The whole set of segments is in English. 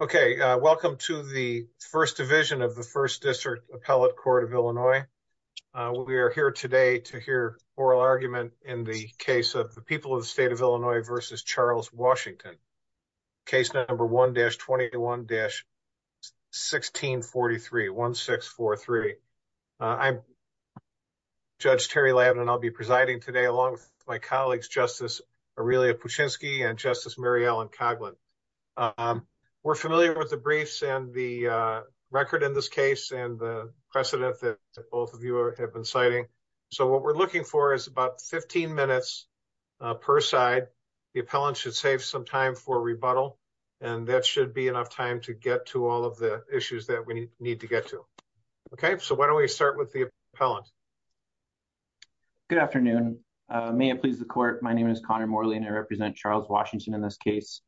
Welcome to the First Division of the First District Appellate Court of Illinois. We are here today to hear oral argument in the case of the people of the State of Illinois v. Charles Washington, Case No. 1-21-1643. I'm Judge Terry Lavin, and I'll be presiding today along with my colleagues Justice Aurelia Puchinski and Justice Mary Ellen Coghlan. We're familiar with the briefs and the record in this case and the precedent that both of you have been citing, so what we're looking for is about 15 minutes per side. The appellant should save some time for rebuttal, and that should be enough time to get to all of the issues that we need to get to. Okay, so why don't we start with the appellant. Good afternoon. May it please the court. My name is Connor Morley, and I represent Charles Washington in this case.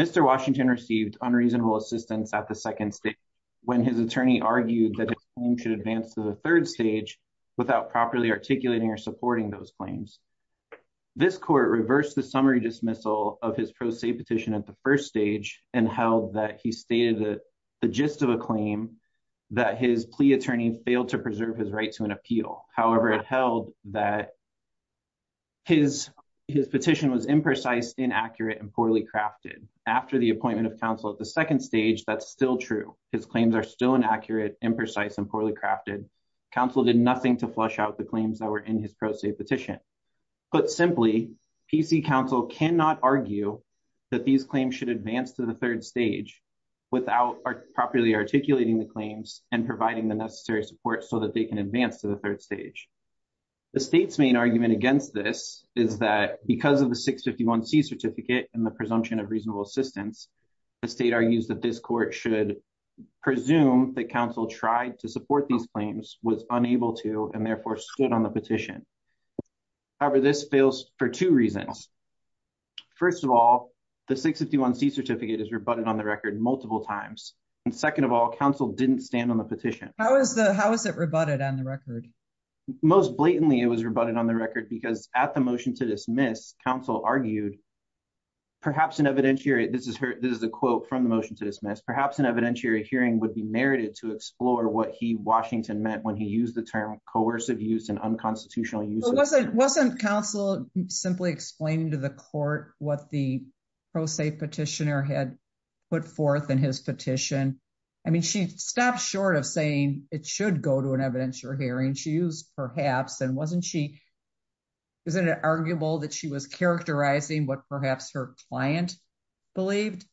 Mr. Washington received unreasonable assistance at the second stage when his attorney argued that his claim should advance to the third stage without properly articulating or supporting those claims. This court reversed the summary dismissal of his pro se petition at the first stage and held that he stated the gist of a claim, that his plea attorney failed to preserve his right to an appeal. However, it held that his petition was imprecise, inaccurate, and poorly crafted. After the appointment of counsel at the second stage, that's still true. His claims are still inaccurate, imprecise, and poorly crafted. Counsel did nothing to flush out the claims that were in his pro se petition. Put simply, PC counsel cannot argue that these claims should advance to the third stage without properly articulating the claims and providing the necessary support so that they can advance to the third stage. The state's main argument against this is that because of the 651c certificate and the presumption of reasonable assistance, the state argues that this court should presume that counsel tried to support these claims, was unable to, and therefore stood on the petition. However, this fails for two reasons. First of all, the 651c certificate is rebutted on the record multiple times. And second of all, counsel didn't stand on the petition. How is the how is it rebutted on the record? Most blatantly, it was rebutted on the record because at the motion to dismiss, counsel argued, perhaps an evidentiary, this is her, this is a quote from the motion to dismiss, perhaps an evidentiary hearing would be merited to explore what he Washington meant when he used the term coercive use and unconstitutional use. Wasn't counsel simply explaining to the court what the pro se petitioner had put forth in his petition? I mean, she stopped short of saying it should go to an evidentiary hearing. She used perhaps and wasn't she? Is it arguable that she was characterizing what perhaps her client believed?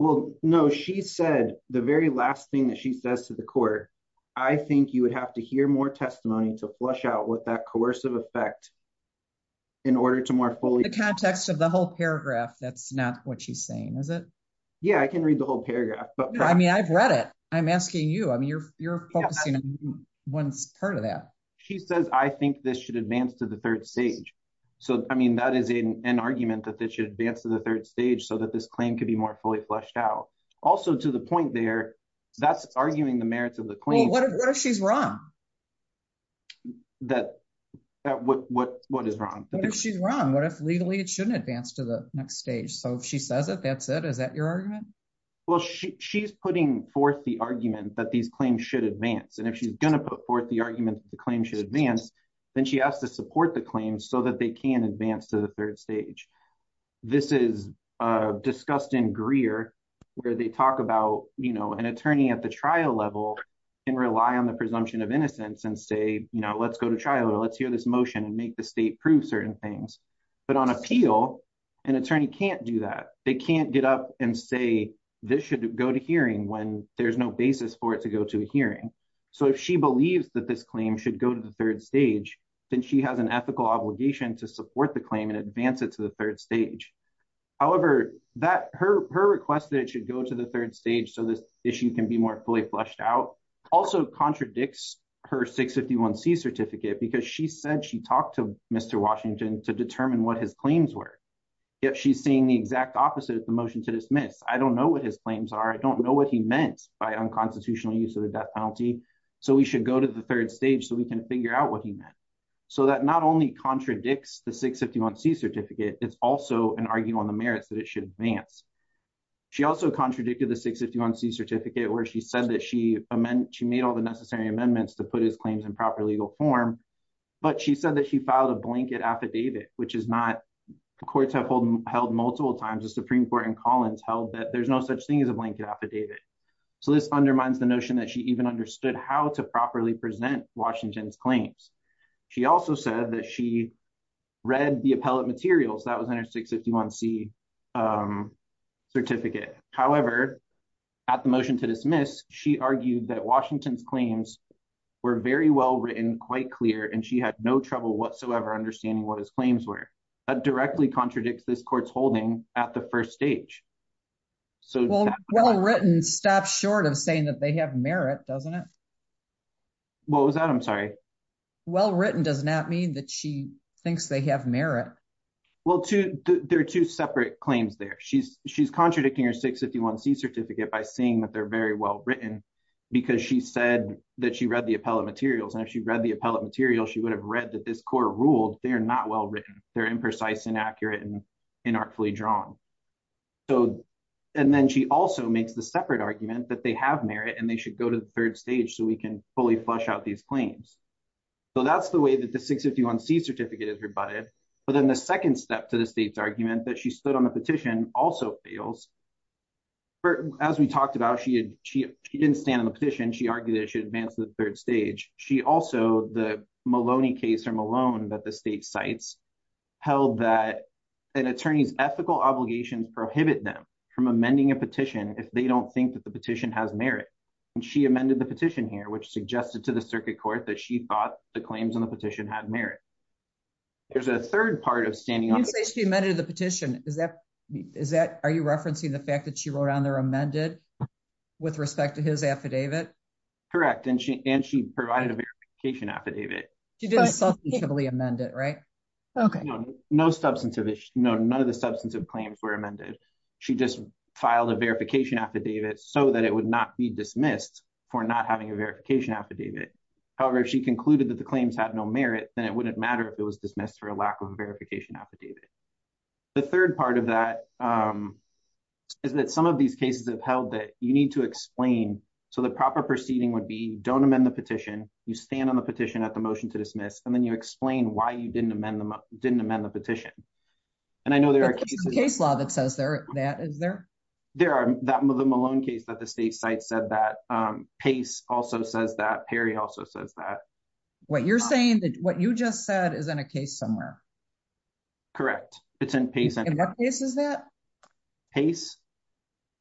Well, no, she said the very last thing that she says to the court, I think you would have to hear more testimony to flush out what that coercive effect in order to more fully the context of the whole paragraph. That's not what she's saying, is it? Yeah, I can read the whole paragraph. But I mean, I've read it. I'm asking you. I mean, you're focusing on one part of that. She says, I think this should advance to the third stage. So I mean, that is an argument that this should advance to the third stage so that this claim could be more fully flushed out. Also, to the point there, that's arguing the merits of the claim. What if she's wrong? That what what what is wrong? She's wrong. What if legally it shouldn't advance to the next stage? So if she says it, that's it. Is that your argument? Well, she's putting forth the argument that these claims should advance. And if she's going to put forth the argument, the claim should advance. Then she has to support the claims so that they can advance to the third stage. This is discussed in Greer, where they talk about, you know, an attorney at the trial level and rely on the presumption of innocence and say, you know, let's go to trial or let's hear this motion and make the state prove certain things. But on appeal, an attorney can't do that. They can't get up and say this should go to hearing when there's no basis for it to go to a hearing. So if she believes that this claim should go to the third stage, then she has an ethical obligation to support the claim and advance it to the third stage. However, that her her request that it should go to the third stage so this issue can be more fully flushed out also contradicts her 651 C certificate, because she said she talked to Mr. Washington to determine what his claims were. If she's seeing the exact opposite of the motion to dismiss, I don't know what his claims are. I don't know what he meant by unconstitutional use of the death penalty. So we should go to the third stage so we can figure out what he meant. So that not only contradicts the 651 C certificate, it's also an argument on the merits that it should advance. She also contradicted the 651 C certificate where she said that she meant she made all the necessary amendments to put his claims in proper legal form. But she said that she filed a blanket affidavit, which is not the courts have held multiple times the Supreme Court and Collins held that there's no such thing as a blanket affidavit. So this undermines the notion that she even understood how to properly present Washington's claims. She also said that she read the appellate materials that was in her 651 C certificate. However, at the motion to dismiss, she argued that Washington's claims were very well written quite clear and she had no trouble whatsoever understanding what his claims were. That directly contradicts this court's holding at the first stage. So well-written stops short of saying that they have merit, doesn't it? What was that? I'm sorry. Well-written does not mean that she thinks they have merit. Well, there are two separate claims there. She's contradicting her 651 C certificate by seeing that they're very well written because she said that she read the appellate materials. And if she read the appellate material, she would have read that this court ruled they're not well-written. They're imprecise, inaccurate, and inartfully drawn. And then she also makes the separate argument that they have merit and they should go to the third stage so we can fully flush out these claims. So that's the way that the 651 C certificate is rebutted. But then the second step to the state's argument that she stood on a petition also fails. As we talked about, she didn't stand on the petition. She argued that she advanced to the third stage. She also, the Maloney case or Malone that the state cites, held that an attorney's ethical obligations prohibit them from amending a petition if they don't think that the petition has merit. And she amended the petition here, which suggested to the circuit court that she thought the claims in the petition had merit. There's a third part of standing on the petition. You say she amended the petition. Are you referencing the fact that she wrote on there with respect to his affidavit? Correct. And she provided a verification affidavit. She didn't substantively amend it, right? Okay. No, none of the substantive claims were amended. She just filed a verification affidavit so that it would not be dismissed for not having a verification affidavit. However, if she concluded that the claims had no merit, then it wouldn't matter if it was dismissed for a lack of a verification affidavit. The third part of that is that some of these cases have held that you need to explain. So the proper proceeding would be don't amend the petition. You stand on the petition at the motion to dismiss, and then you explain why you didn't amend the petition. And I know there are cases- Case law that says that, is there? There are. The Malone case that the state cites said that. Pace also says that. Perry also says that. What you're saying, what you just said is in a case somewhere. Correct. It's in Pace. In what case is that? Pace,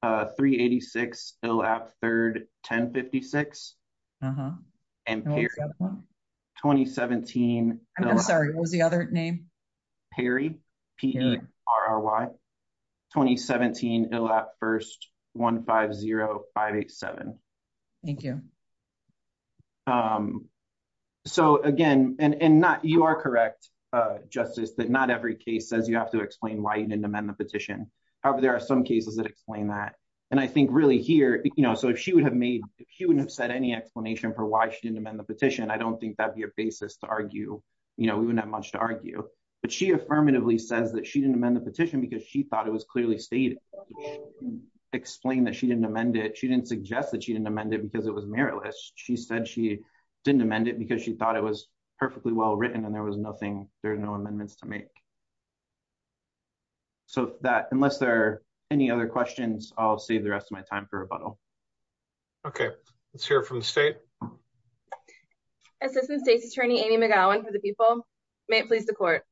386 Illap 3rd, 1056. And Perry, 2017. I'm sorry, what was the other name? Perry, P-E-R-R-Y, 2017 Illap 1st, 150587. Thank you. So, again, and you are correct, Justice, that not every case says you have to explain why you didn't amend the petition. However, there are some cases that explain that. And I think really here, you know, so if she would have made, if she wouldn't have said any explanation for why she didn't amend the petition, I don't think that'd be a basis to argue, you know, we wouldn't have much to argue. But she affirmatively says that she didn't amend the petition because she thought it was clearly stated. She didn't explain that she didn't amend it. She didn't suggest that amend it because it was meritless. She said she didn't amend it because she thought it was perfectly well written and there was nothing, there are no amendments to make. So that, unless there are any other questions, I'll save the rest of my time for rebuttal. Okay. Let's hear from the state. Assistant State's Attorney Amy McGowan for the people. May it please the court.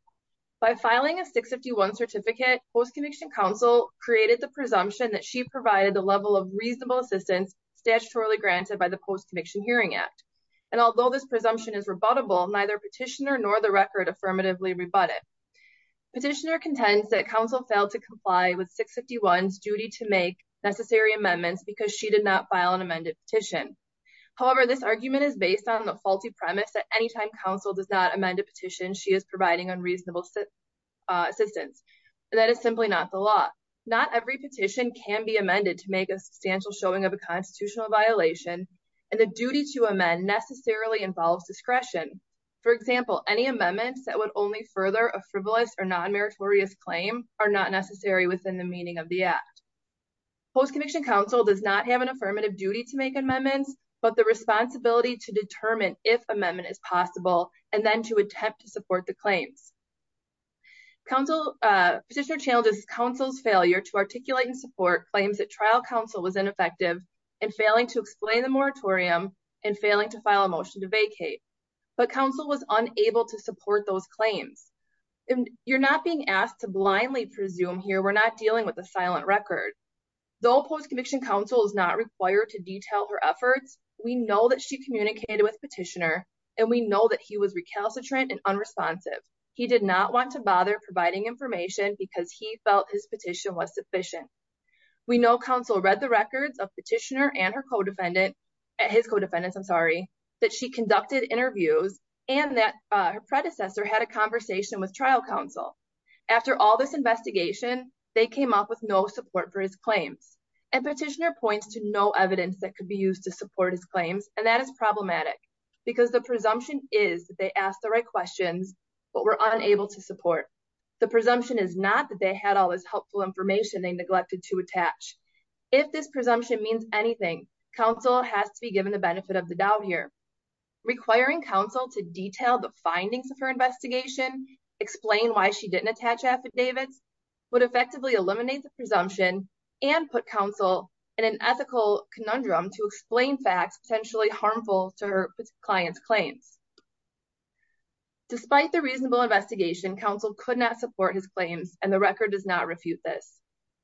By filing a 651 certificate, post-conviction counsel created the presumption that she provided the level of reasonable assistance statutorily granted by the Post-Conviction Hearing Act. And although this presumption is rebuttable, neither petitioner nor the record affirmatively rebut it. Petitioner contends that counsel failed to comply with 651's duty to make necessary amendments because she did not file an amended petition. However, this argument is based on the faulty premise that anytime counsel does not amend a petition, she is providing unreasonable assistance. And that is simply not the law. Not every petition can be amended to make a substantial showing of a constitutional violation and the duty to amend necessarily involves discretion. For example, any amendments that would only further a frivolous or non-meritorious claim are not necessary within the meaning of the act. Post-conviction counsel does not have an affirmative duty to make amendments, but the responsibility to determine if amendment is effective. Petitioner challenges counsel's failure to articulate and support claims that trial counsel was ineffective in failing to explain the moratorium and failing to file a motion to vacate. But counsel was unable to support those claims. You're not being asked to blindly presume here. We're not dealing with a silent record. Though post-conviction counsel is not required to detail her efforts, we know that she communicated with petitioner and we know that he was recalcitrant and unresponsive. He did not want to bother providing information because he felt his petition was sufficient. We know counsel read the records of petitioner and her co-defendant, his co-defendants, I'm sorry, that she conducted interviews and that her predecessor had a conversation with trial counsel. After all this investigation, they came up with no support for his claims and petitioner points to no evidence that could be used to support his claims. And that problematic because the presumption is that they asked the right questions but were unable to support. The presumption is not that they had all this helpful information they neglected to attach. If this presumption means anything, counsel has to be given the benefit of the doubt here. Requiring counsel to detail the findings of her investigation, explain why she didn't attach affidavits would effectively eliminate the presumption and put counsel in an ethical conundrum to explain facts potentially harmful to her client's claims. Despite the reasonable investigation, counsel could not support his claims and the record does not refute this.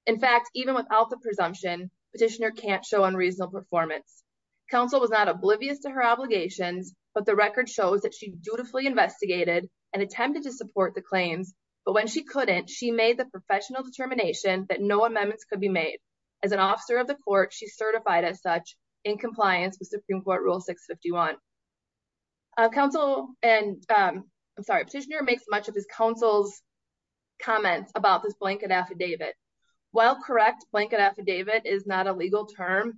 In fact, even without the presumption, petitioner can't show unreasonable performance. Counsel was not oblivious to her obligations but the record shows that she dutifully investigated and attempted to support the claims but when she couldn't, she made the professional determination that no amendments could be made. As an officer of the court, she's certified as such in compliance with Supreme Court Rule 651. I'm sorry, petitioner makes much of his counsel's comments about this blanket affidavit. While correct, blanket affidavit is not a legal term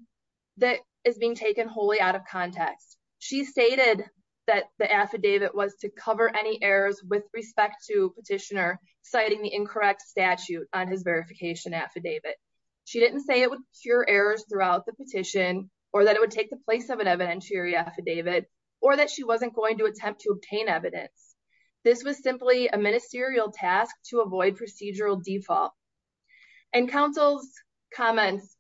that is being taken wholly out of context. She stated that the affidavit was to cover any errors with respect to petitioner citing the incorrect statute on his verification affidavit. She didn't say it would cure errors throughout the petition or that it would take the place of an evidentiary affidavit or that she wasn't going to attempt to obtain evidence. This was simply a ministerial task to avoid procedural default and counsel's comments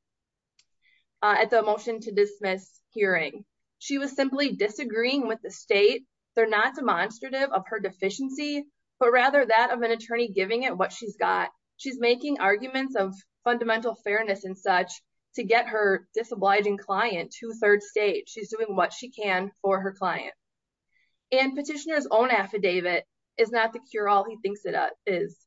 at the motion to dismiss hearing. She was simply disagreeing with the state. They're not her deficiency but rather that of an attorney giving it what she's got. She's making arguments of fundamental fairness and such to get her disobliging client to third stage. She's doing what she can for her client and petitioner's own affidavit is not the cure all he thinks it is.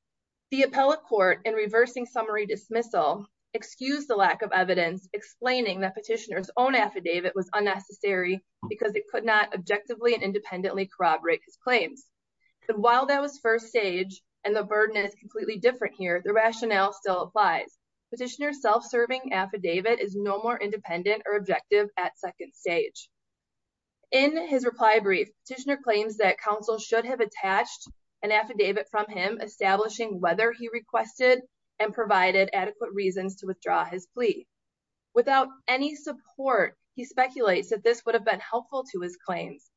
The appellate court in reversing summary dismissal excused the lack of evidence explaining that petitioner's own affidavit was unnecessary because it could not objectively and independently corroborate his claims. But while that was first stage and the burden is completely different here, the rationale still applies. Petitioner's self-serving affidavit is no more independent or objective at second stage. In his reply brief, petitioner claims that counsel should have attached an affidavit from him establishing whether he requested and provided adequate reasons to withdraw his plea. Without any support, he speculates that this would have been helpful to his claims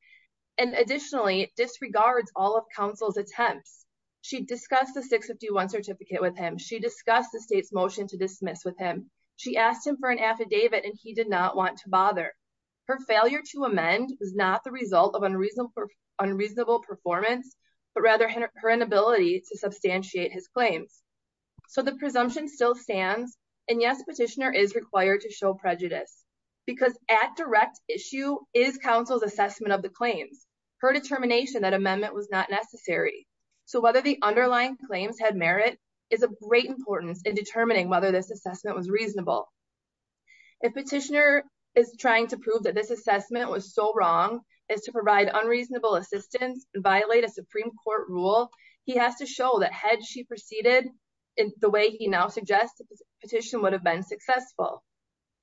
and additionally disregards all of counsel's attempts. She discussed the 651 certificate with him. She discussed the state's motion to dismiss with him. She asked him for an affidavit and he did not want to bother. Her failure to amend was not the result of unreasonable unreasonable performance but rather her inability to substantiate his claims. So the presumption still stands and yes, petitioner is required to show prejudice because at direct issue is counsel's assessment of the claims. Her determination that amendment was not necessary. So whether the underlying claims had merit is of great importance in determining whether this assessment was reasonable. If petitioner is trying to prove that this assessment was so wrong as to provide unreasonable assistance and violate a Supreme Court rule, he has to show that had she proceeded in the way he now suggests the petition would have been successful.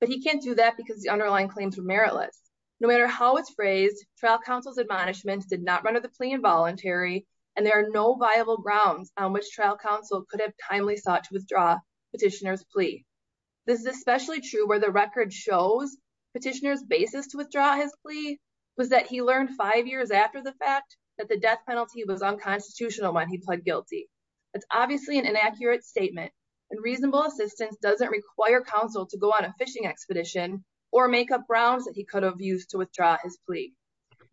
But he can't do that because the underlying claims were meritless. No matter how it's phrased, trial counsel's admonishment did not run of the plea involuntary and there are no viable grounds on which trial counsel could have timely sought to withdraw petitioner's plea. This is especially true where the record shows petitioner's basis to withdraw his plea was that he learned five years after the fact that the death penalty was unconstitutional when he pled guilty. That's obviously an inaccurate statement and reasonable assistance doesn't require counsel to go on a fishing expedition or make up grounds that he could have used to withdraw his plea.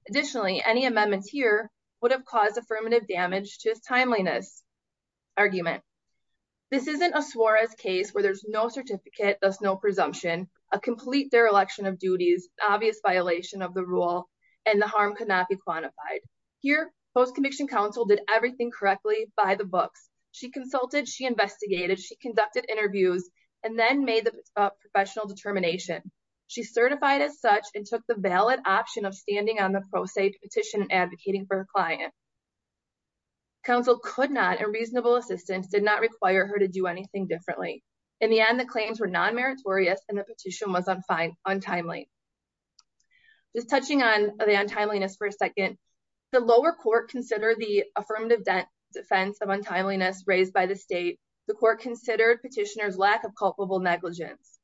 Additionally, any amendments here would have caused affirmative damage to his timeliness argument. This isn't a Suarez case where there's no certificate, thus no presumption, a complete dereliction of duties, obvious violation of the rule and the harm could not be quantified. Here, post-conviction counsel did everything correctly by the books. She consulted, she investigated, she conducted interviews and then made the professional determination. She certified as such and took the valid option of standing on the pro se petition advocating for her client. Counsel could not and reasonable assistance did not require her to do anything differently. In the end, the claims were non-meritorious and the petition was untimely. Just touching on the untimeliness for a second, the lower court considered the affirmative defense of untimeliness raised by the state. The court considered petitioner's lack of culpable negligence.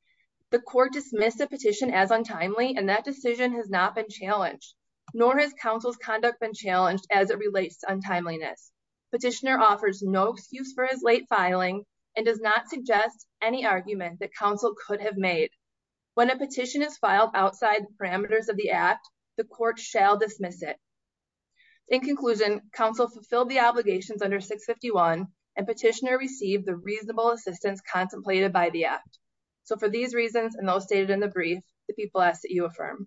The court dismissed the petition as untimely and that decision has not been challenged nor has counsel's conduct been challenged as it relates to untimeliness. Petitioner offers no excuse for his late filing and does not suggest any argument that counsel could have made. When a petition is filed outside the parameters of the act, the court shall dismiss it. In conclusion, counsel fulfilled the obligations under 651 and petitioner received the reasonable assistance contemplated by the act. So, for these reasons and those stated in the brief, the people ask that you affirm.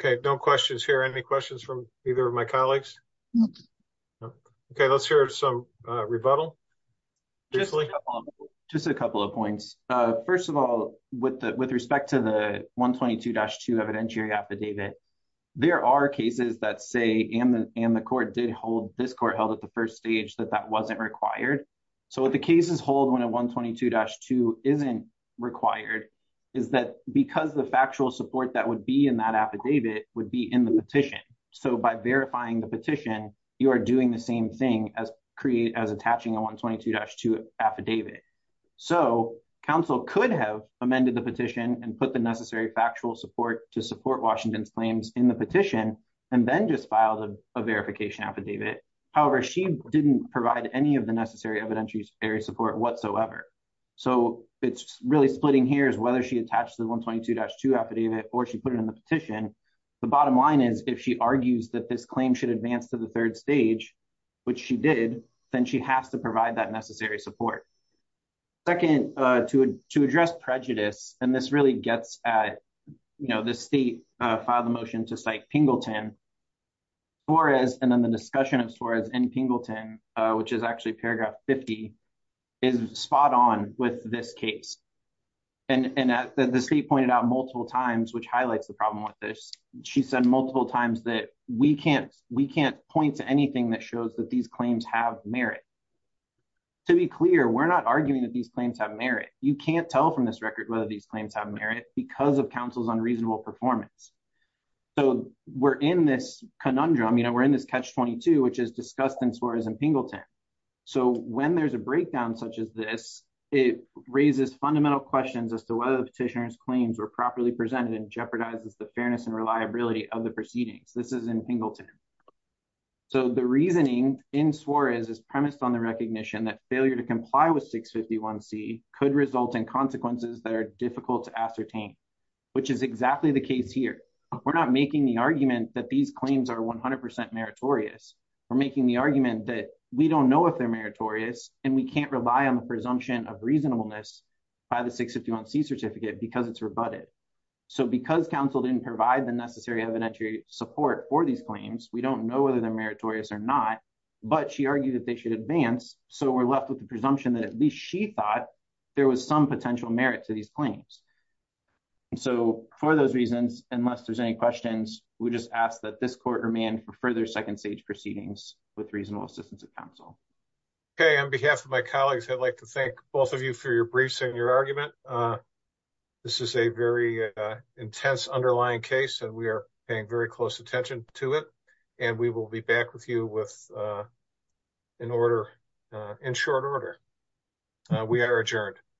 Okay, no questions here. Any questions from either of my colleagues? Okay, let's hear some rebuttal. Just a couple of points. First of all, with respect to the 122-2 evidentiary affidavit, there are cases that say and the court did hold, this court held at the first stage that that wasn't required. So, what the cases hold when a 122-2 isn't required is that because the factual support that would be in that affidavit would be in the petition. So, by verifying the petition, you are doing the same thing as attaching a 122-2 affidavit. So, counsel could have amended the petition and put the necessary factual support to support Washington's claims in the petition and then just filed a verification affidavit. However, she didn't provide any of the necessary evidentiary support whatsoever. So, it's really splitting here is whether she attached the 122-2 affidavit or she put it in the petition. The bottom line is if she argues that this claim should advance to the third stage, which she did, then she has to provide that necessary support. Second, to address prejudice, and this really gets at, you know, the state filed a motion to cite Pingleton. Torres and then the discussion of Torres and Pingleton, which is actually paragraph 50, is spot on with this case. And the state pointed out multiple times, which highlights the problem with this. She said multiple times that we can't point to anything that shows that these claims have merit. To be clear, we're not arguing that these claims have merit. You can't tell from this record whether these claims have merit because of counsel's unreasonable performance. So, we're in this conundrum, you know, we're in this catch-22, which is discussed in Torres and Pingleton. So, when there's a breakdown such as this, it raises fundamental questions as to whether petitioner's claims were properly presented and jeopardizes the fairness and reliability of the proceedings. This is in Pingleton. So, the reasoning in Suarez is premised on the recognition that failure to comply with 651c could result in consequences that are difficult to ascertain, which is exactly the case here. We're not making the argument that these claims are 100% meritorious. We're making the argument that we don't know if they're meritorious and we can't buy on the presumption of reasonableness by the 651c certificate because it's rebutted. So, because counsel didn't provide the necessary evidentiary support for these claims, we don't know whether they're meritorious or not, but she argued that they should advance. So, we're left with the presumption that at least she thought there was some potential merit to these claims. So, for those reasons, unless there's any questions, we just ask that this court remand for further second stage proceedings with reasonable assistance of counsel. Okay. On behalf of my colleagues, I'd like to thank both of you for your briefs and your argument. This is a very intense underlying case and we are paying very close attention to it, and we will be back with you in short order. We are adjourned.